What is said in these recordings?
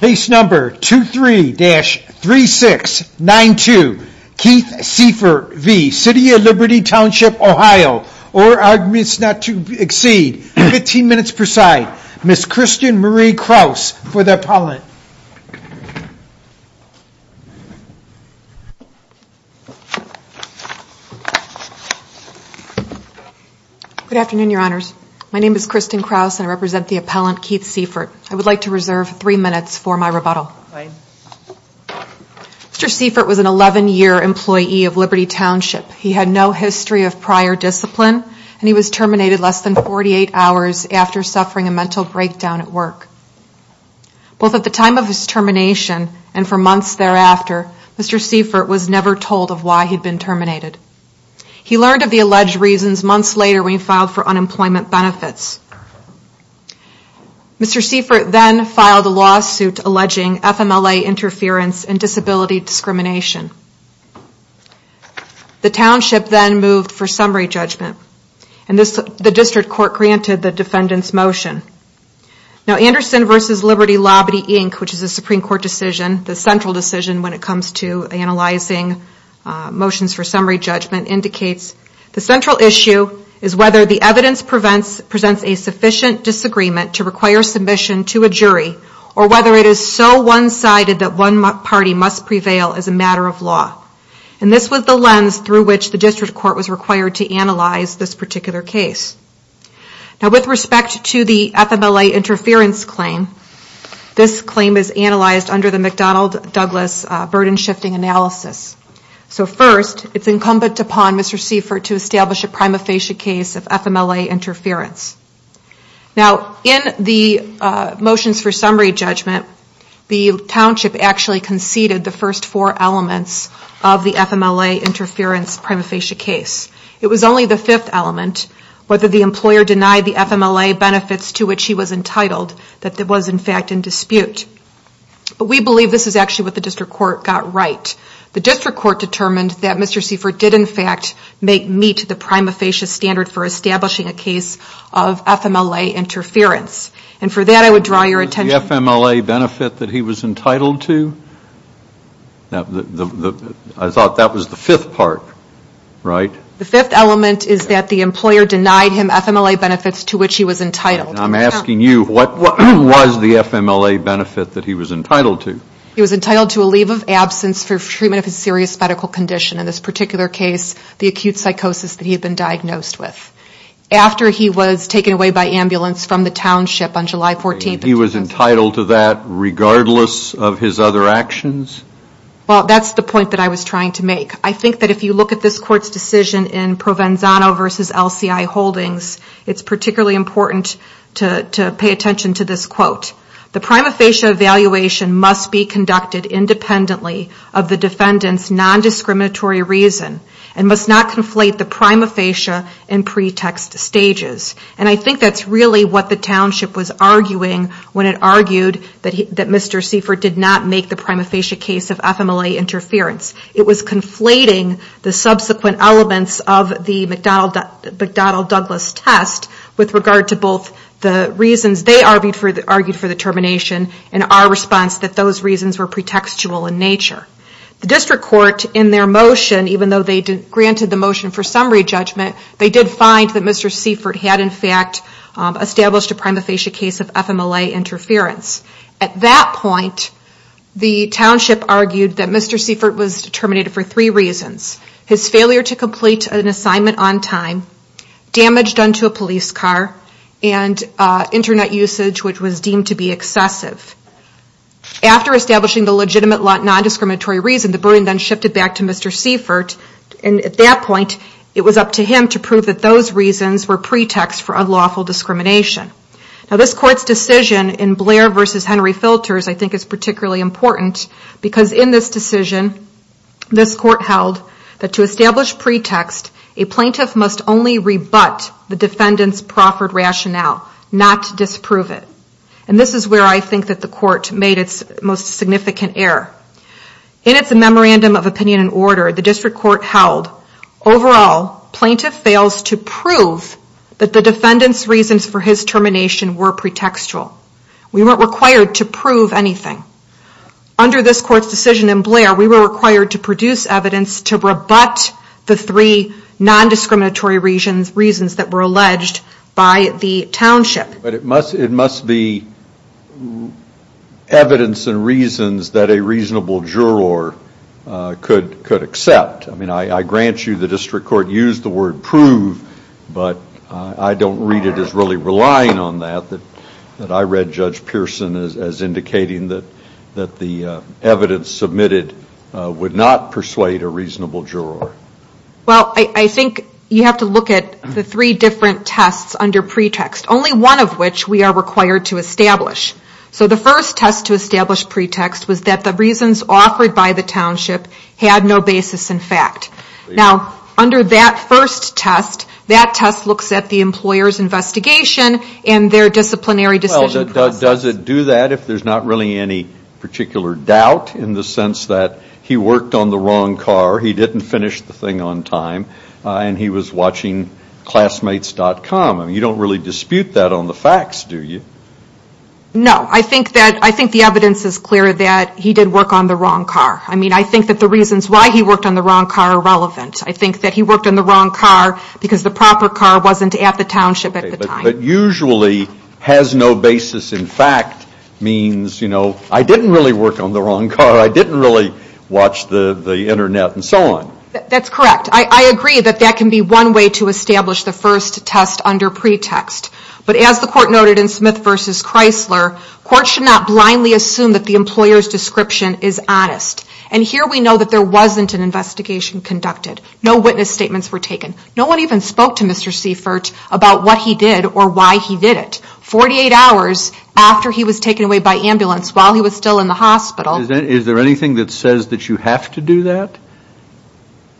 Case number 23-3692 Keith Siefert v. City of Liberty Township OH or arguments not to exceed, 15 minutes per side, Ms. Christian Marie Krause for the appellant. Good afternoon, Your Honors. My name is Christian Krause and I represent the appellant Keith Siefert. I would like to reserve three minutes for my rebuttal. Mr. Siefert was an 11-year employee of Liberty Township. He had no history of prior discipline and he was terminated less than 48 hours after suffering a mental breakdown at work. Both at the time of his termination and for months thereafter, Mr. Siefert was never told of why he had been terminated. He learned of the alleged reasons months later when he filed for unemployment benefits. Mr. Siefert then filed a lawsuit alleging FMLA interference and disability discrimination. The Township then moved for summary judgment and the District Court granted the defendant's motion. Anderson v. Liberty Lobbity Inc., which is a Supreme Court decision, the central decision when it comes to analyzing motions for summary judgment, indicates the central issue is whether the evidence presents a sufficient disagreement to require submission to a jury or whether it is so one-sided that one party must prevail as a matter of law. This was the lens through which the District Court was required to analyze this particular case. With respect to the FMLA interference claim, this claim is analyzed under the McDonald-Douglas burden shifting analysis. First, it is incumbent upon Mr. Siefert to establish a prima facie case of FMLA interference. In the motions for summary judgment, the Township actually succeeded the first four elements of the FMLA interference prima facie case. It was only the fifth element, whether the employer denied the FMLA benefits to which he was entitled, that was in fact in dispute. But we believe this is actually what the District Court got right. The District Court determined that Mr. Siefert did in fact meet the prima facie standard for establishing a case of FMLA interference. And for that, I would draw your attention... Was the FMLA benefit that he was entitled to? I thought that was the fifth part, right? The fifth element is that the employer denied him FMLA benefits to which he was entitled. I'm asking you, what was the FMLA benefit that he was entitled to? He was entitled to a leave of absence for treatment of a serious medical condition. In this particular case, the acute psychosis that he had been diagnosed with. After he was taken away by ambulance from the Township on July 14th. He was entitled to that regardless of his other actions? Well, that's the point that I was trying to make. I think that if you look at this Court's decision in Provenzano v. LCI Holdings, it's particularly important to pay attention to this quote. The prima facie evaluation must be conducted independently of the defendant's nondiscriminatory reason and must not conflate the prima facie and pretext stages. And I think that's really what the Township was arguing when it argued that Mr. Siefert did not make the prima facie case of FMLA interference. It was conflating the subsequent elements of the McDonnell Douglas test with regard to both the reasons they argued for the termination and our response that those reasons were pretextual in nature. The District Court in their motion, even though they granted the motion for summary judgment, they did find that Mr. Siefert had in fact established a prima facie case of FMLA interference. At that point, the Township argued that Mr. Siefert was terminated for three reasons. His failure to complete an assignment on time, damage done to a police car, and internet usage which was deemed to be excessive. After establishing the legitimate nondiscriminatory reason, the burden then shifted back to Mr. Siefert and at that point it was up to him to prove that those reasons were pretext for unlawful discrimination. Now this Court's decision in Blair v. Henry Filters I think is particularly important because in this decision, this Court held that to establish pretext, a plaintiff must only rebut the defendant's proffered rationale, not disprove it. And this is where I think the Court made its most significant error. In its Memorandum of Opinion and Order, the District Court held, overall, plaintiff fails to prove that the defendant's reasons for his termination were pretextual. We weren't required to prove anything. Under this Court's decision in Blair, we were required to produce evidence to rebut the three nondiscriminatory reasons that were alleged by the Township. But it must be evidence and reasons that a reasonable juror could accept. I grant you the District Court used the word prove, but I don't read it as really relying on that. I read Judge Pearson as indicating that the evidence submitted would not persuade a reasonable juror. Well, I think you have to look at the three different tests under pretext. Only one of which we are required to establish. So the first test to establish pretext was that the reasons offered by the Township had no basis in fact. Now, under that first test, that test looks at the employer's investigation and their disciplinary decision process. Does it do that if there's not really any particular doubt in the sense that he worked on the wrong car, he didn't finish the thing on time, and he was watching Classmates.com? I mean, you don't really dispute that on the facts, do you? No. I think the evidence is clear that he did work on the wrong car. I mean, I think that the reasons why he worked on the wrong car are relevant. I think that he worked on the wrong car because the proper car wasn't at the Township at the time. But usually, has no basis in fact means, you know, I didn't really work on the wrong car, I didn't really watch the internet, and so on. That's correct. I agree that that can be one way to establish the first test under pretext. But as the Court noted in Smith v. Chrysler, courts should not blindly assume that the employer's description is honest. And here we know that there wasn't an investigation conducted. No witness statements were taken. No one even spoke to Mr. Seifert about what he did or why he did it. 48 hours after he was taken away by ambulance while he was still in the hospital. Is there anything that says that you have to do that?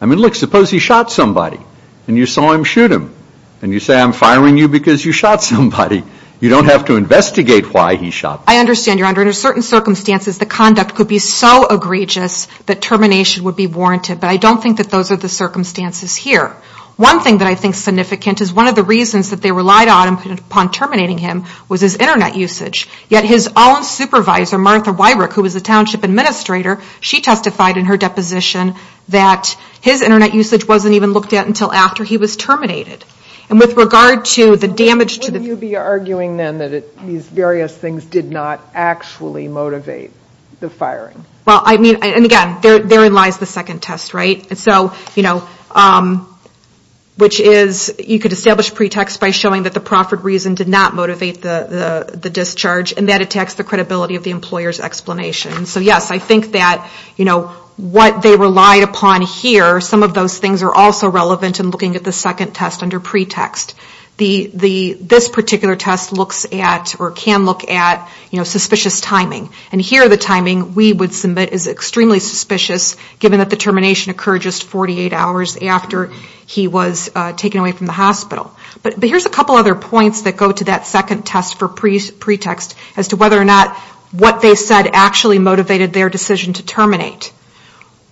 I mean, look, suppose he shot somebody, and you saw him shoot him. And you say, I'm firing you because you shot somebody. You don't have to investigate why he shot them. I understand, Your Honor. Under certain circumstances, the conduct could be so egregious that termination would be warranted. But I don't think that those are the circumstances here. One thing that I think is significant is one of the reasons that they relied on upon terminating him was his Internet usage. Yet his own supervisor, Martha Weirich, who was the township administrator, she testified in her deposition that his Internet usage wasn't even looked at until after he was terminated. And with regard to the damage to the... Wouldn't you be arguing then that these various things did not actually motivate the firing? Well, I mean, and again, therein lies the second test, right? And so, you know, which is you could establish pretext by showing that the proffered reason did not motivate the discharge, and that attacks the credibility of the employer's explanation. So, yes, I think that, you know, what they relied upon here, some of those things are also relevant in looking at the second test under pretext. This particular test looks at, or can look at, you know, suspicious timing. And here, the timing we would submit is extremely suspicious, given that the termination occurred just 48 hours after he was taken away from the hospital. But here's a couple other points that go to that second test for pretext as to whether or not what they said actually motivated their decision to terminate.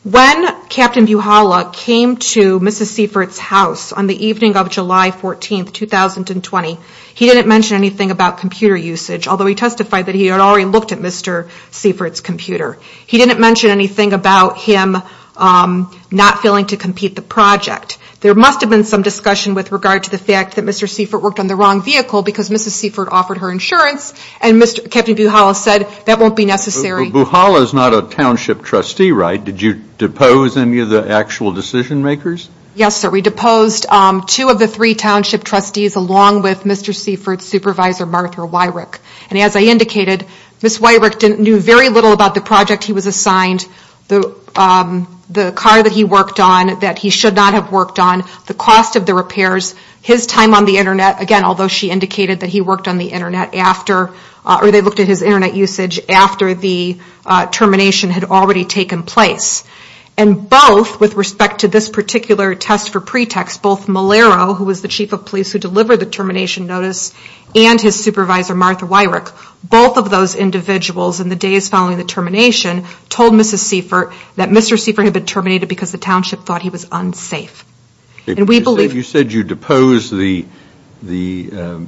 When Captain Buchala came to Mrs. Siefert's house on the evening of July 14, 2020, he didn't mention anything about computer usage, although he testified that he had already looked at Mr. Siefert's computer. He didn't mention anything about him not feeling to compete the project. There must have been some discussion with regard to the fact that Mr. Siefert worked on the wrong vehicle because Mrs. Siefert offered her insurance, and Captain Buchala said that won't be necessary. But Buchala is not a township trustee, right? Did you depose any of the actual decision makers? Yes, sir. We deposed two of the three township trustees, along with Mr. Siefert's supervisor, Martha Wyrick. And as I indicated, Mrs. Wyrick knew very little about the project he was assigned, the car that he worked on that he should not have worked on, the cost of the repairs, his time on the Internet, again, although she indicated that he worked on the Internet after, or they looked at his Internet usage after the termination had already taken place. And both, with respect to this particular test for pretext, both Molero, who was the chief of police who delivered the termination notice, and his supervisor, Martha Wyrick, both of those individuals in the days following the termination told Mrs. Siefert that Mr. Siefert had been terminated because the township thought he was unsafe. You said you deposed the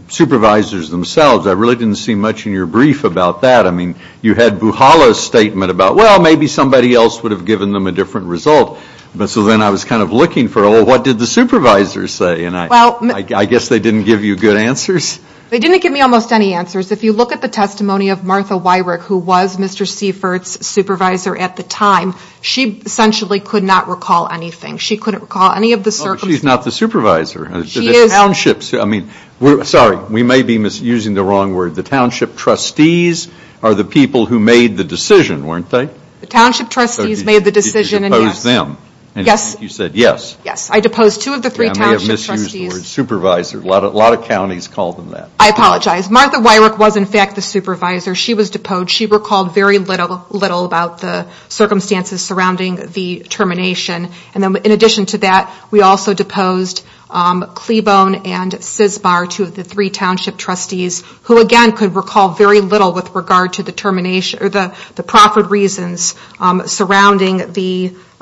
supervisors themselves. I really didn't see much in your brief about that. I mean, you had Buhala's statement about, well, maybe somebody else would have given them a different result. So then I was kind of looking for, oh, what did the supervisors say? And I guess they didn't give you good answers. They didn't give me almost any answers. If you look at the testimony of Martha Wyrick, who was Mr. Siefert's supervisor at the time, she essentially could not recall anything. She couldn't recall any of the circumstances. She's not the supervisor. She is. Sorry, we may be using the wrong word. The township trustees are the people who made the decision, weren't they? The township trustees made the decision. So you deposed them. Yes. And I think you said yes. Yes. I deposed two of the three township trustees. I may have misused the word supervisor. A lot of counties call them that. I apologize. Martha Wyrick was, in fact, the supervisor. She was deposed. She recalled very little about the circumstances surrounding the termination. In addition to that, we also deposed Clebone and Sisbar, two of the three township trustees, who, again, could recall very little with regard to the profit reasons surrounding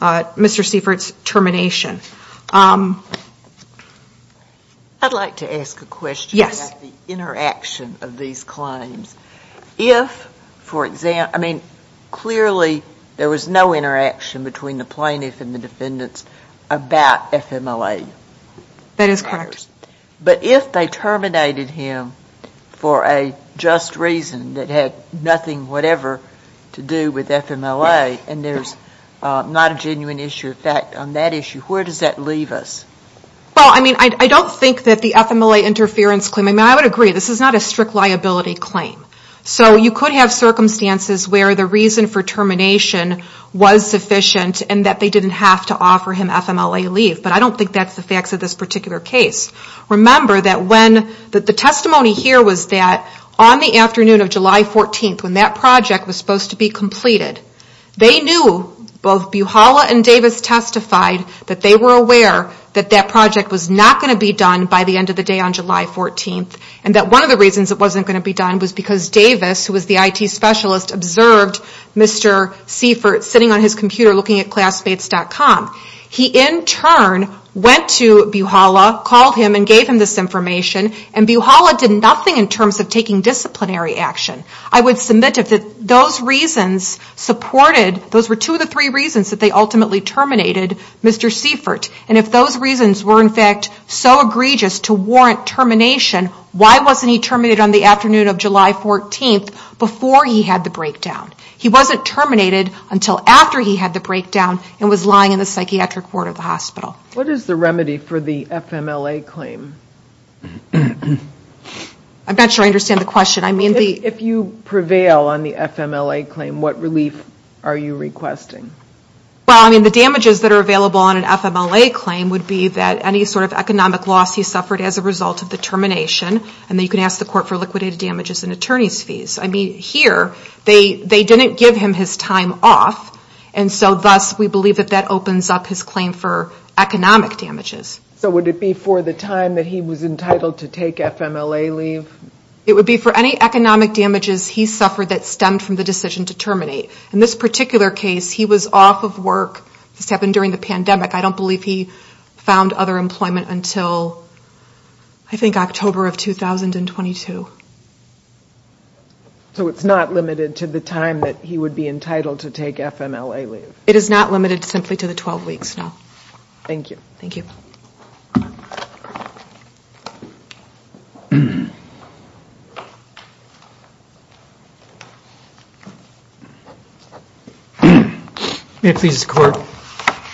Mr. Siefert's termination. I'd like to ask a question about the interaction of these claims. Yes. That is correct. But if they terminated him for a just reason that had nothing whatever to do with FMLA, and there's not a genuine issue of fact on that issue, where does that leave us? Well, I mean, I don't think that the FMLA interference claim, I mean, I would agree, this is not a strict liability claim. So you could have circumstances where the reason for termination was sufficient and that they didn't have to offer him FMLA leave. But I don't think that's the facts of this particular case. Remember that the testimony here was that on the afternoon of July 14th, when that project was supposed to be completed, they knew, both Buhala and Davis testified, that they were aware that that project was not going to be done by the end of the day on July 14th, and that one of the reasons it wasn't going to be done was because Davis, who was the IT specialist, observed Mr. Seifert sitting on his computer looking at classmates.com. He, in turn, went to Buhala, called him and gave him this information, and Buhala did nothing in terms of taking disciplinary action. I would submit that those reasons supported, those were two of the three reasons that they ultimately terminated Mr. Seifert. And if those reasons were, in fact, so egregious to warrant termination, why wasn't he terminated on the afternoon of July 14th before he had the breakdown? He wasn't terminated until after he had the breakdown and was lying in the psychiatric ward of the hospital. What is the remedy for the FMLA claim? I'm not sure I understand the question. If you prevail on the FMLA claim, what relief are you requesting? Well, I mean, the damages that are available on an FMLA claim would be that any sort of economic loss he suffered as a result of the termination, and that you can ask the court for liquidated damages and attorney's fees. I mean, here, they didn't give him his time off, and so thus, we believe that that opens up his claim for economic damages. So would it be for the time that he was entitled to take FMLA leave? It would be for any economic damages he suffered that stemmed from the decision to terminate. In this particular case, he was off of work. This happened during the pandemic. I don't believe he found other employment until, I think, October of 2022. So it's not limited to the time that he would be entitled to take FMLA leave? It is not limited simply to the 12 weeks, no. Thank you. Thank you. May it please the Court,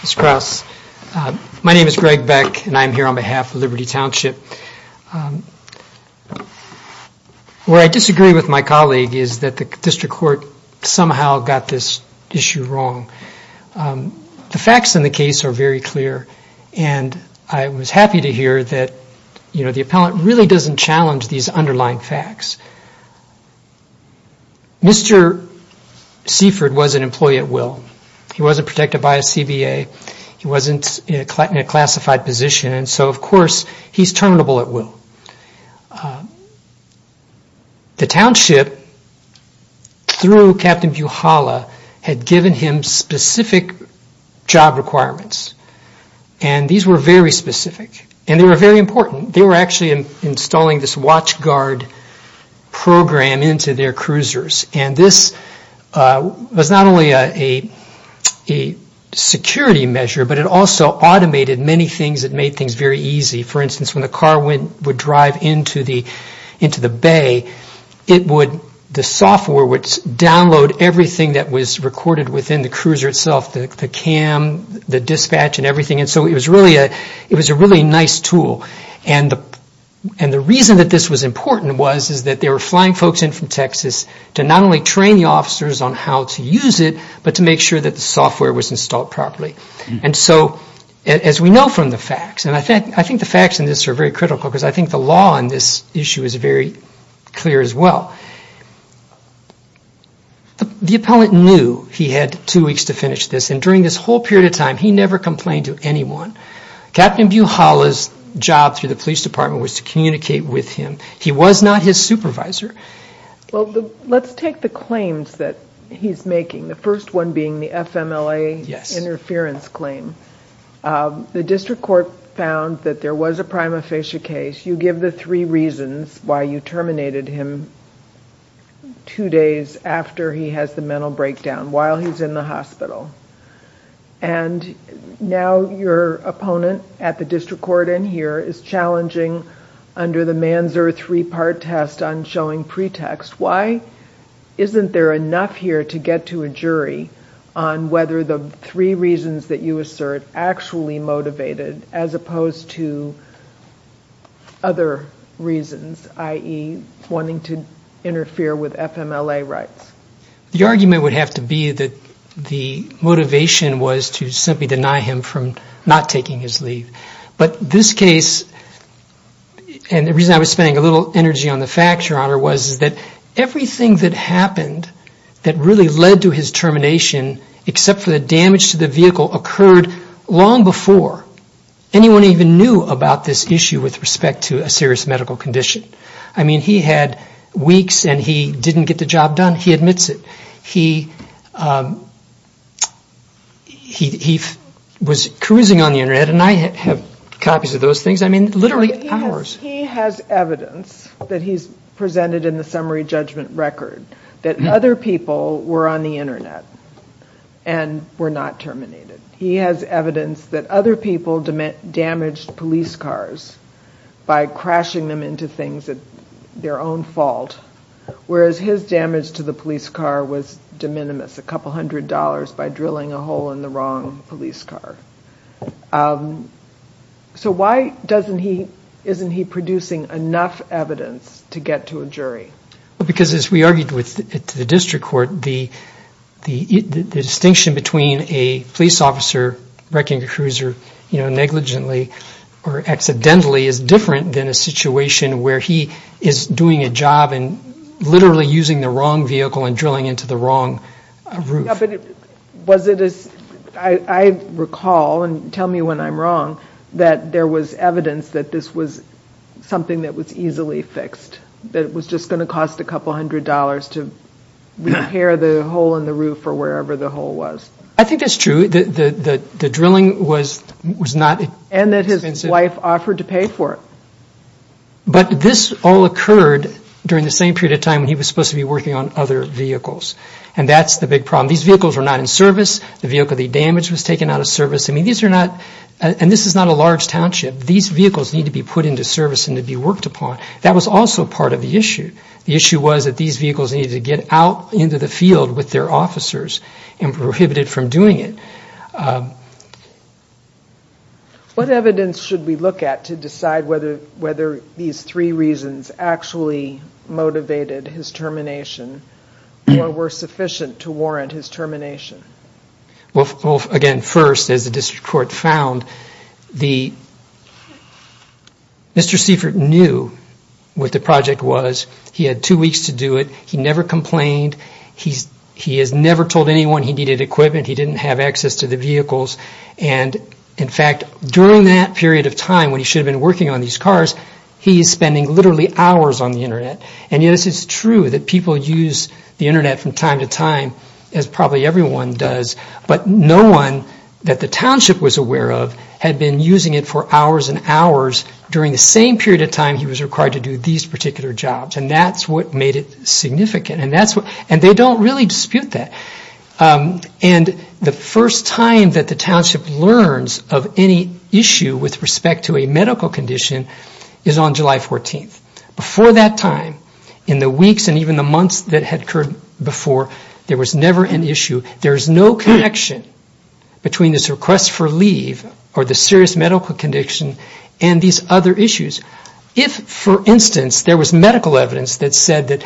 Mr. Krauss. My name is Greg Beck, and I'm here on behalf of Liberty Township. Where I disagree with my colleague is that the District Court somehow got this issue wrong. The facts in the case are very clear, and I was happy to hear that the District Court really doesn't challenge these underlying facts. Mr. Seaford was an employee at will. He wasn't protected by a CBA. He wasn't in a classified position, and so, of course, he's terminable at will. The Township, through Captain Buchala, had given him specific job requirements, and these were very specific. And they were very important. They were actually installing this watchguard program into their cruisers, and this was not only a security measure, but it also automated many things. It made things very easy. For instance, when the car would drive into the bay, the software would download everything that was recorded within the cruiser itself, the cam, the dispatch, and everything. And so it was a really nice tool. And the reason that this was important was that they were flying folks in from Texas to not only train the officers on how to use it, but to make sure that the software was installed properly. And so, as we know from the facts, and I think the facts in this are very critical because I think the law on this issue is very clear as well. The appellant knew he had two weeks to finish this, and during this whole period of time, he never complained to anyone. Captain Buchala's job through the police department was to communicate with him. He was not his supervisor. Well, let's take the claims that he's making, the first one being the FMLA interference claim. The district court found that there was a prima facie case. You give the three reasons why you terminated him two days after he has the mental breakdown, while he's in the hospital. And now your opponent at the district court in here is challenging, under the man's-earth three-part test, on showing pretext. Why isn't there enough here to get to a jury on whether the three reasons that you assert actually motivated, as opposed to other reasons, i.e., wanting to interfere with FMLA rights? The argument would have to be that the motivation was to simply deny him from not taking his leave. But this case, and the reason I was spending a little energy on the facts, Your Honor, was that everything that happened that really led to his termination, except for the damage to the vehicle, occurred long before anyone even knew about this issue with respect to a serious medical condition. I mean, he had weeks, and he didn't get the job done. He admits it. He was cruising on the Internet, and I have copies of those things. I mean, literally hours. He has evidence that he's presented in the summary judgment record that other people were on the Internet and were not terminated. He has evidence that other people damaged police cars by crashing them into things at their own fault, whereas his damage to the police car was de minimis, a couple hundred dollars by drilling a hole in the wrong police car. So why isn't he producing enough evidence to get to a jury? Because, as we argued with the district court, the distinction between a police officer wrecking a cruiser negligently or accidentally is different than a situation where he is doing a job and literally using the wrong vehicle and drilling into the wrong roof. I recall, and tell me when I'm wrong, that there was evidence that this was something that was easily fixed, that it was just going to cost a couple hundred dollars to repair the hole in the roof or wherever the hole was. I think that's true. The drilling was not expensive. And that his wife offered to pay for it. But this all occurred during the same period of time when he was supposed to be working on other vehicles. And that's the big problem. These vehicles were not in service. The vehicle that he damaged was taken out of service. I mean, these are not, and this is not a large township. These vehicles need to be put into service and to be worked upon. That was also part of the issue. The issue was that these vehicles needed to get out into the field with their officers and prohibited from doing it. What evidence should we look at to decide whether these three reasons actually motivated his termination or were sufficient to warrant his termination? Well, again, first, as the District Court found, Mr. Seifert knew what the project was. He had two weeks to do it. He never complained. He has never told anyone he needed equipment. He didn't have access to the vehicles. And, in fact, during that period of time when he should have been working on these cars, he is spending literally hours on the Internet. And yes, it's true that people use the Internet from time to time, as probably everyone does, but no one that the township was aware of had been using it for hours and hours during the same period of time he was required to do these particular jobs. And that's what made it significant. And they don't really dispute that. And the first time that the township learns of any issue with respect to a medical condition is on July 14th. Before that time, in the weeks and even the months that had occurred before, there was never an issue. There is no connection between this request for leave or the serious medical condition and these other issues. If, for instance, there was medical evidence that said that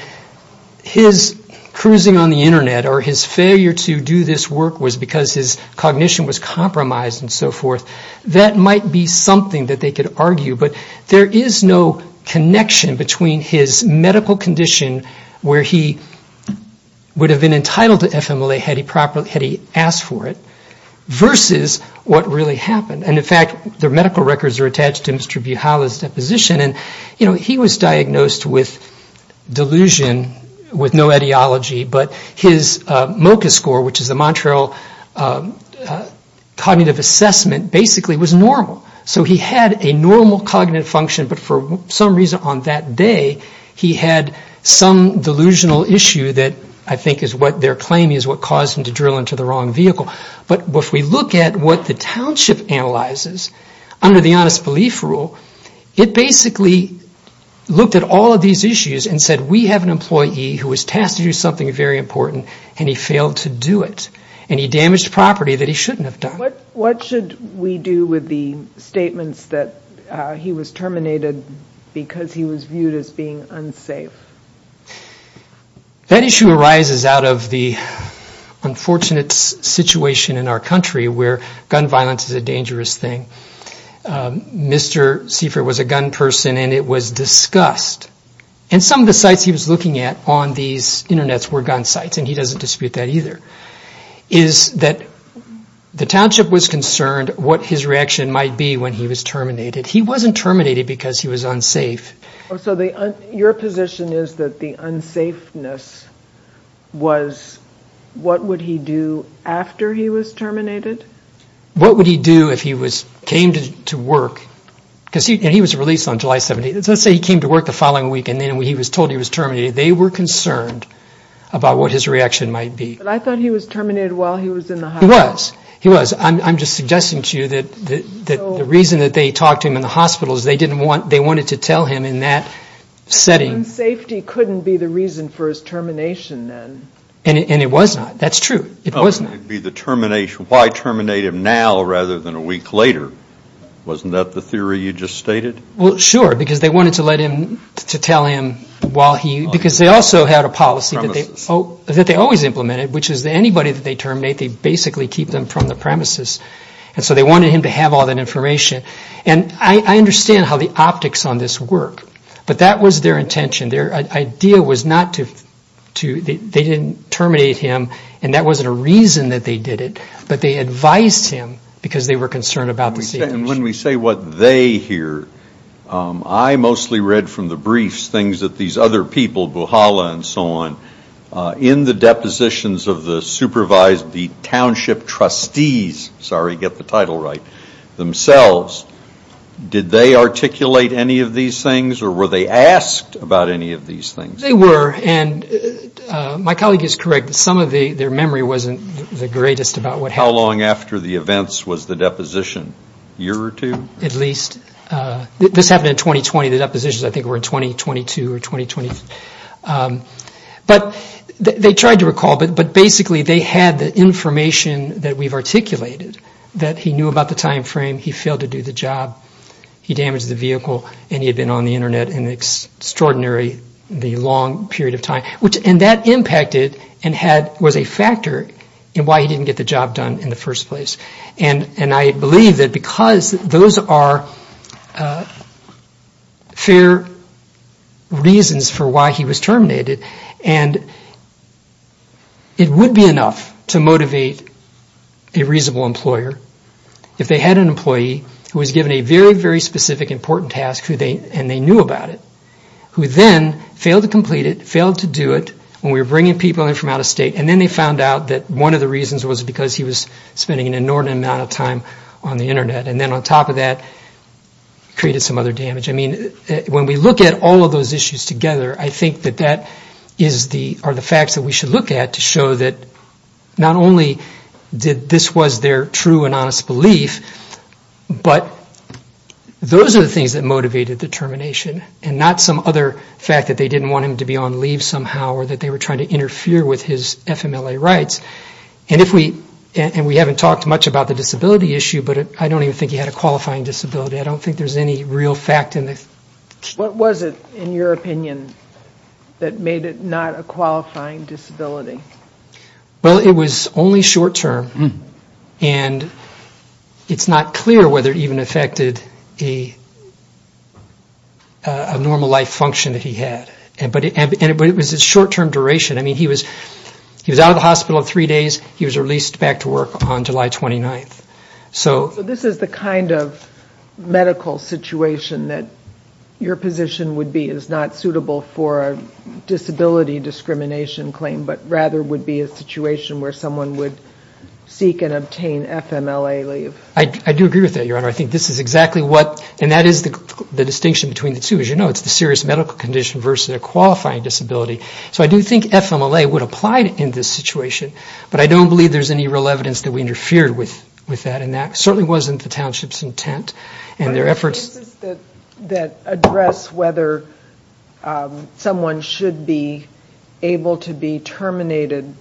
his cruising on the Internet or his failure to do this work was because his cognition was compromised and so forth, that might be something that they could argue. But there is no connection between his medical condition, where he would have been entitled to FMLA had he asked for it, versus what really happened. And, in fact, their medical records are attached to Mr. Buhala's deposition. And, you know, he was diagnosed with delusion, with no etiology, but his MOCA score, which is the Montreal Cognitive Assessment, basically was normal. So he had a normal cognitive function, but for some reason on that day he had some delusional issue that I think is what their claim is, what caused him to drill into the wrong vehicle. But if we look at what the township analyzes under the Honest Belief Rule, it basically looked at all of these issues and said, we have an employee who was tasked to do something very important and he failed to do it. And he damaged property that he shouldn't have done. What should we do with the statements that he was terminated because he was viewed as being unsafe? That issue arises out of the unfortunate situation in our country where gun violence is a dangerous thing. Mr. Seifer was a gun person and it was discussed. And some of the sites he was looking at on these internets were gun sites, and he doesn't dispute that either. The township was concerned what his reaction might be when he was terminated. He wasn't terminated because he was unsafe. So your position is that the unsafeness was what would he do after he was terminated? What would he do if he came to work? Because he was released on July 17th. Let's say he came to work the following week and then he was told he was terminated. They were concerned about what his reaction might be. But I thought he was terminated while he was in the hospital. He was. He was. I'm just suggesting to you that the reason that they talked to him in the hospital is they wanted to tell him in that setting. Unsafety couldn't be the reason for his termination then. And it was not. That's true. It was not. Why terminate him now rather than a week later? Wasn't that the theory you just stated? Well, sure, because they wanted to let him, to tell him while he, because they also had a policy that they always implemented, which is that anybody that they terminate, they basically keep them from the premises. And so they wanted him to have all that information. And I understand how the optics on this work, but that was their intention. Their idea was not to, they didn't terminate him, and that wasn't a reason that they did it, but they advised him because they were concerned about the situation. And when we say what they hear, I mostly read from the briefs things that these other people, Buhala and so on, in the depositions of the supervised, the township trustees, sorry, get the title right, themselves, did they articulate any of these things or were they asked about any of these things? They were. And my colleague is correct that some of their memory wasn't the greatest about what happened. How long after the events was the deposition? A year or two? At least. This happened in 2020. The depositions, I think, were in 2022 or 2020. But they tried to recall, but basically they had the information that we've articulated, that he knew about the time frame, he failed to do the job, he damaged the vehicle, and he had been on the Internet an extraordinarily long period of time. And that impacted and was a factor in why he didn't get the job done in the first place. And I believe that because those are fair reasons for why he was terminated and it would be enough to motivate a reasonable employer if they had an employee who was given a very, very specific important task and they knew about it, who then failed to complete it, failed to do it when we were bringing people in from out of state, and then they found out that one of the reasons was because he was spending an inordinate amount of time on the Internet. And then on top of that, created some other damage. I mean, when we look at all of those issues together, I think that that are the facts that we should look at to show that not only did this was their true and honest belief, but those are the things that motivated the termination and not some other fact that they didn't want him to be on leave somehow or that they were trying to interfere with his FMLA rights. And we haven't talked much about the disability issue, but I don't even think he had a qualifying disability. I don't think there's any real fact in this. What was it, in your opinion, that made it not a qualifying disability? Well, it was only short term. And it's not clear whether it even affected a normal life function that he had. But it was a short term duration. I mean, he was out of the hospital three days. He was released back to work on July 29th. So this is the kind of medical situation that your position would be is not suitable for a disability discrimination claim, but rather would be a situation where someone would seek and obtain FMLA leave. I do agree with that, Your Honor. I think this is exactly what, and that is the distinction between the two. As you know, it's the serious medical condition versus a qualifying disability. So I do think FMLA would apply in this situation, but I don't believe there's any real evidence that we interfered with that. And that certainly wasn't the township's intent and their efforts. Are there cases that address whether someone should be able to be terminated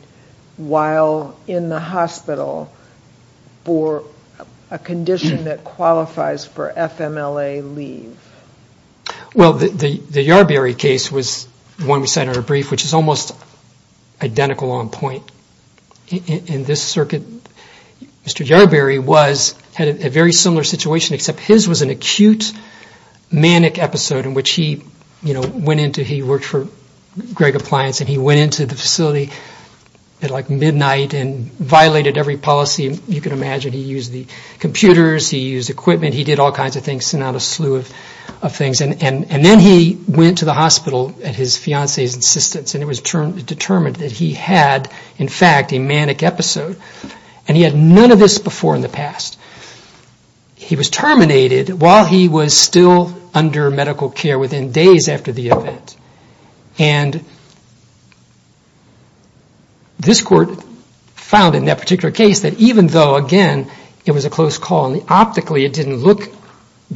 while in the hospital for a condition that qualifies for FMLA leave? Well, the Yarberry case was one we cited in our brief, which is almost identical on point. In this circuit, Mr. Yarberry had a very similar situation, except his was an acute manic episode in which he went into, he worked for Gregg Appliance, and he went into the facility at like midnight and violated every policy you could imagine. He used the computers. He used equipment. And he did all kinds of things, sent out a slew of things. And then he went to the hospital at his fiancee's insistence, and it was determined that he had, in fact, a manic episode. And he had none of this before in the past. He was terminated while he was still under medical care within days after the event. And this Court found in that particular case that even though, again, it was a close call, and optically it didn't look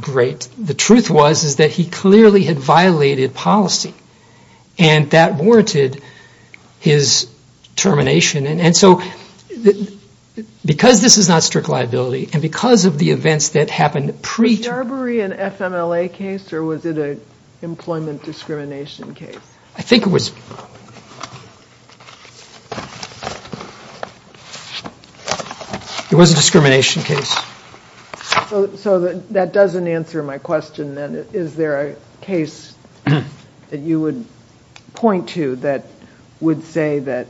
great, the truth was is that he clearly had violated policy. And that warranted his termination. And so because this is not strict liability and because of the events that happened pre- Was Yarberry an FMLA case or was it an employment discrimination case? I think it was. It was a discrimination case. So that doesn't answer my question then. Is there a case that you would point to that would say that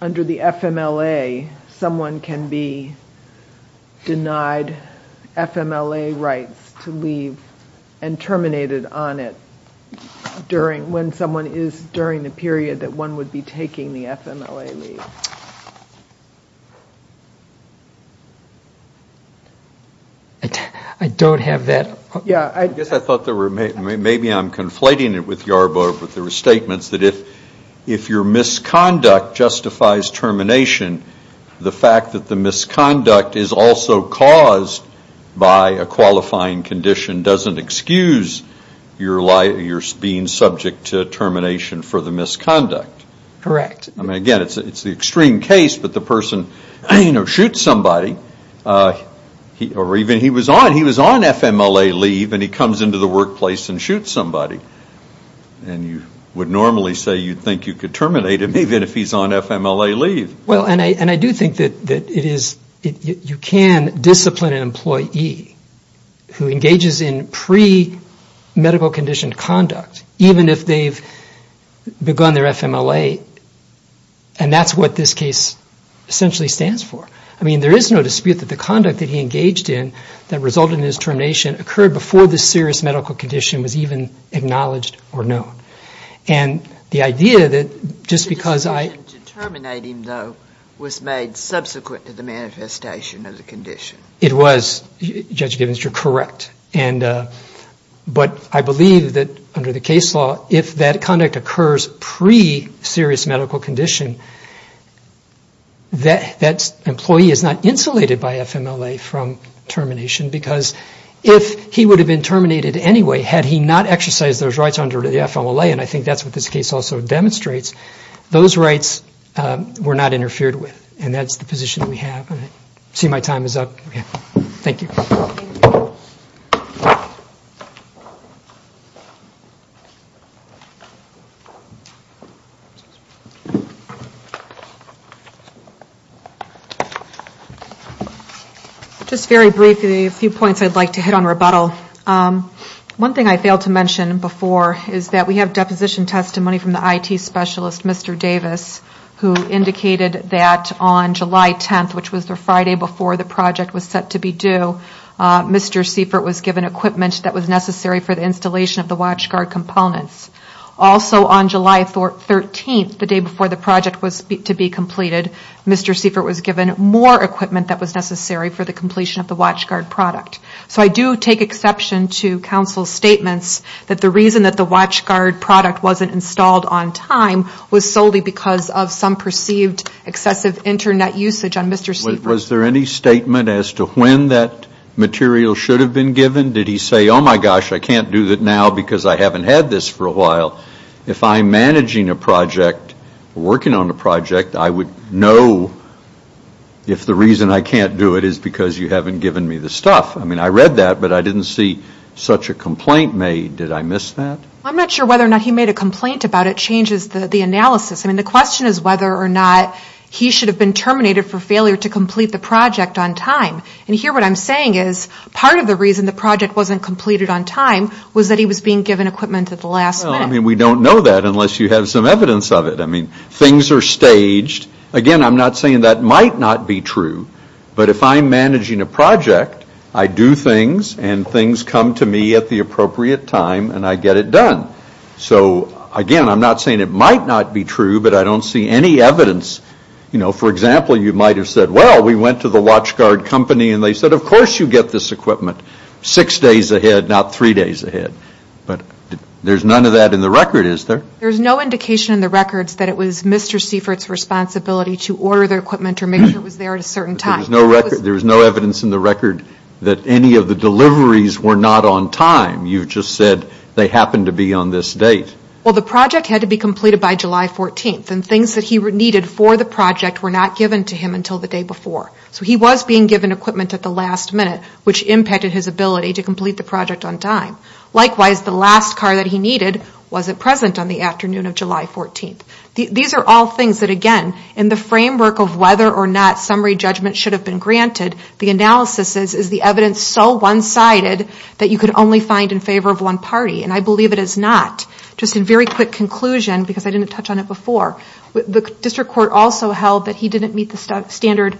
under the FMLA, someone can be denied FMLA rights to leave and terminated on it when someone is during the period that one would be taking the FMLA leave? I don't have that. I guess I thought maybe I'm conflating it with Yarborough, but there were statements that if your misconduct justifies termination, the fact that the misconduct is also caused by a qualifying condition doesn't excuse your being subject to termination for the misconduct. Correct. I mean, again, it's the extreme case, but the person shoots somebody or even he was on. He was on FMLA leave and he comes into the workplace and shoots somebody. And you would normally say you'd think you could terminate him even if he's on FMLA leave. Well, and I do think that you can discipline an employee who engages in pre-medical condition conduct even if they've begun their FMLA, and that's what this case essentially stands for. I mean, there is no dispute that the conduct that he engaged in that resulted in his termination occurred before the serious medical condition was even acknowledged or known. And the idea that just because I... The decision to terminate him, though, was made subsequent to the manifestation of the condition. It was, Judge Givens, you're correct. But I believe that under the case law, if that conduct occurs pre-serious medical condition, that employee is not insulated by FMLA from termination because if he would have been terminated anyway had he not exercised those rights under the FMLA, and I think that's what this case also demonstrates, those rights were not interfered with, and that's the position we have. I see my time is up. Thank you. Thank you. Just very briefly, a few points I'd like to hit on rebuttal. One thing I failed to mention before is that we have deposition testimony from the IT specialist, Mr. Davis, who indicated that on July 10th, which was the Friday before the project was set to be due, Mr. Seifert was given equipment that was necessary for the installation of the WatchGuard components. Also on July 13th, the day before the project was to be completed, Mr. Seifert was given more equipment that was necessary for the completion of the WatchGuard product. So I do take exception to counsel's statements that the reason that the WatchGuard product wasn't installed on time was solely because of some perceived excessive Internet usage on Mr. Seifert. Was there any statement as to when that material should have been given? Did he say, oh, my gosh, I can't do that now because I haven't had this for a while? If I'm managing a project or working on a project, I would know if the reason I can't do it is because you haven't given me the stuff. I mean, I read that, but I didn't see such a complaint made. Did I miss that? I'm not sure whether or not he made a complaint about it changes the analysis. I mean, the question is whether or not he should have been terminated for failure to complete the project on time. And here what I'm saying is part of the reason the project wasn't completed on time was that he was being given equipment at the last minute. Well, I mean, we don't know that unless you have some evidence of it. I mean, things are staged. Again, I'm not saying that might not be true, but if I'm managing a project, I do things, and things come to me at the appropriate time, and I get it done. So again, I'm not saying it might not be true, but I don't see any evidence. For example, you might have said, well, we went to the watchguard company and they said, of course you get this equipment six days ahead, not three days ahead. But there's none of that in the record, is there? There's no indication in the records that it was Mr. Seifert's responsibility to order the equipment or make sure it was there at a certain time. There was no evidence in the record that any of the deliveries were not on time. You just said they happened to be on this date. Well, the project had to be completed by July 14th, and things that he needed for the project were not given to him until the day before. So he was being given equipment at the last minute, which impacted his ability to complete the project on time. Likewise, the last car that he needed wasn't present on the afternoon of July 14th. These are all things that, again, in the framework of whether or not a summary judgment should have been granted, the analysis is, is the evidence so one-sided that you could only find in favor of one party? And I believe it is not. Just a very quick conclusion, because I didn't touch on it before. The district court also held that he didn't meet the standard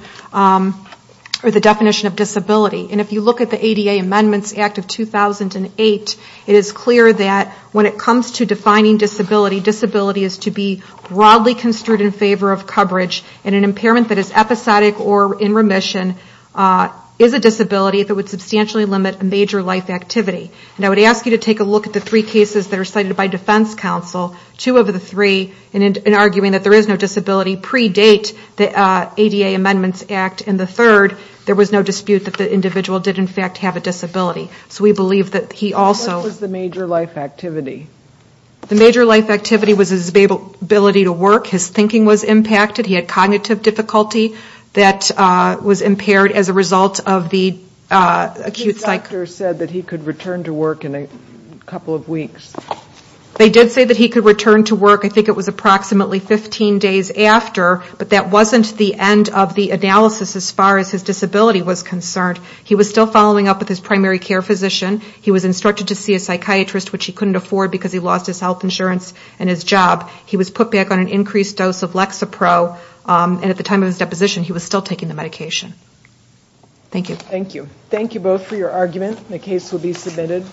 or the definition of disability. And if you look at the ADA Amendments Act of 2008, it is clear that when it comes to defining disability, disability is to be broadly construed in favor of coverage, and an impairment that is episodic or in remission is a disability that would substantially limit a major life activity. And I would ask you to take a look at the three cases that are cited by defense counsel, two of the three, in arguing that there is no disability pre-date the ADA Amendments Act, and the third, there was no dispute that the individual did, in fact, have a disability. So we believe that he also... What was the major life activity? The major life activity was his ability to work. His thinking was impacted. He had cognitive difficulty that was impaired as a result of the acute psych... The doctor said that he could return to work in a couple of weeks. They did say that he could return to work. I think it was approximately 15 days after, but that wasn't the end of the analysis as far as his disability was concerned. He was still following up with his primary care physician. He was instructed to see a psychiatrist, which he couldn't afford because he lost his health insurance and his job. He was put back on an increased dose of Lexapro, and at the time of his deposition he was still taking the medication. Thank you. Thank you. Thank you both for your argument. The case will be submitted.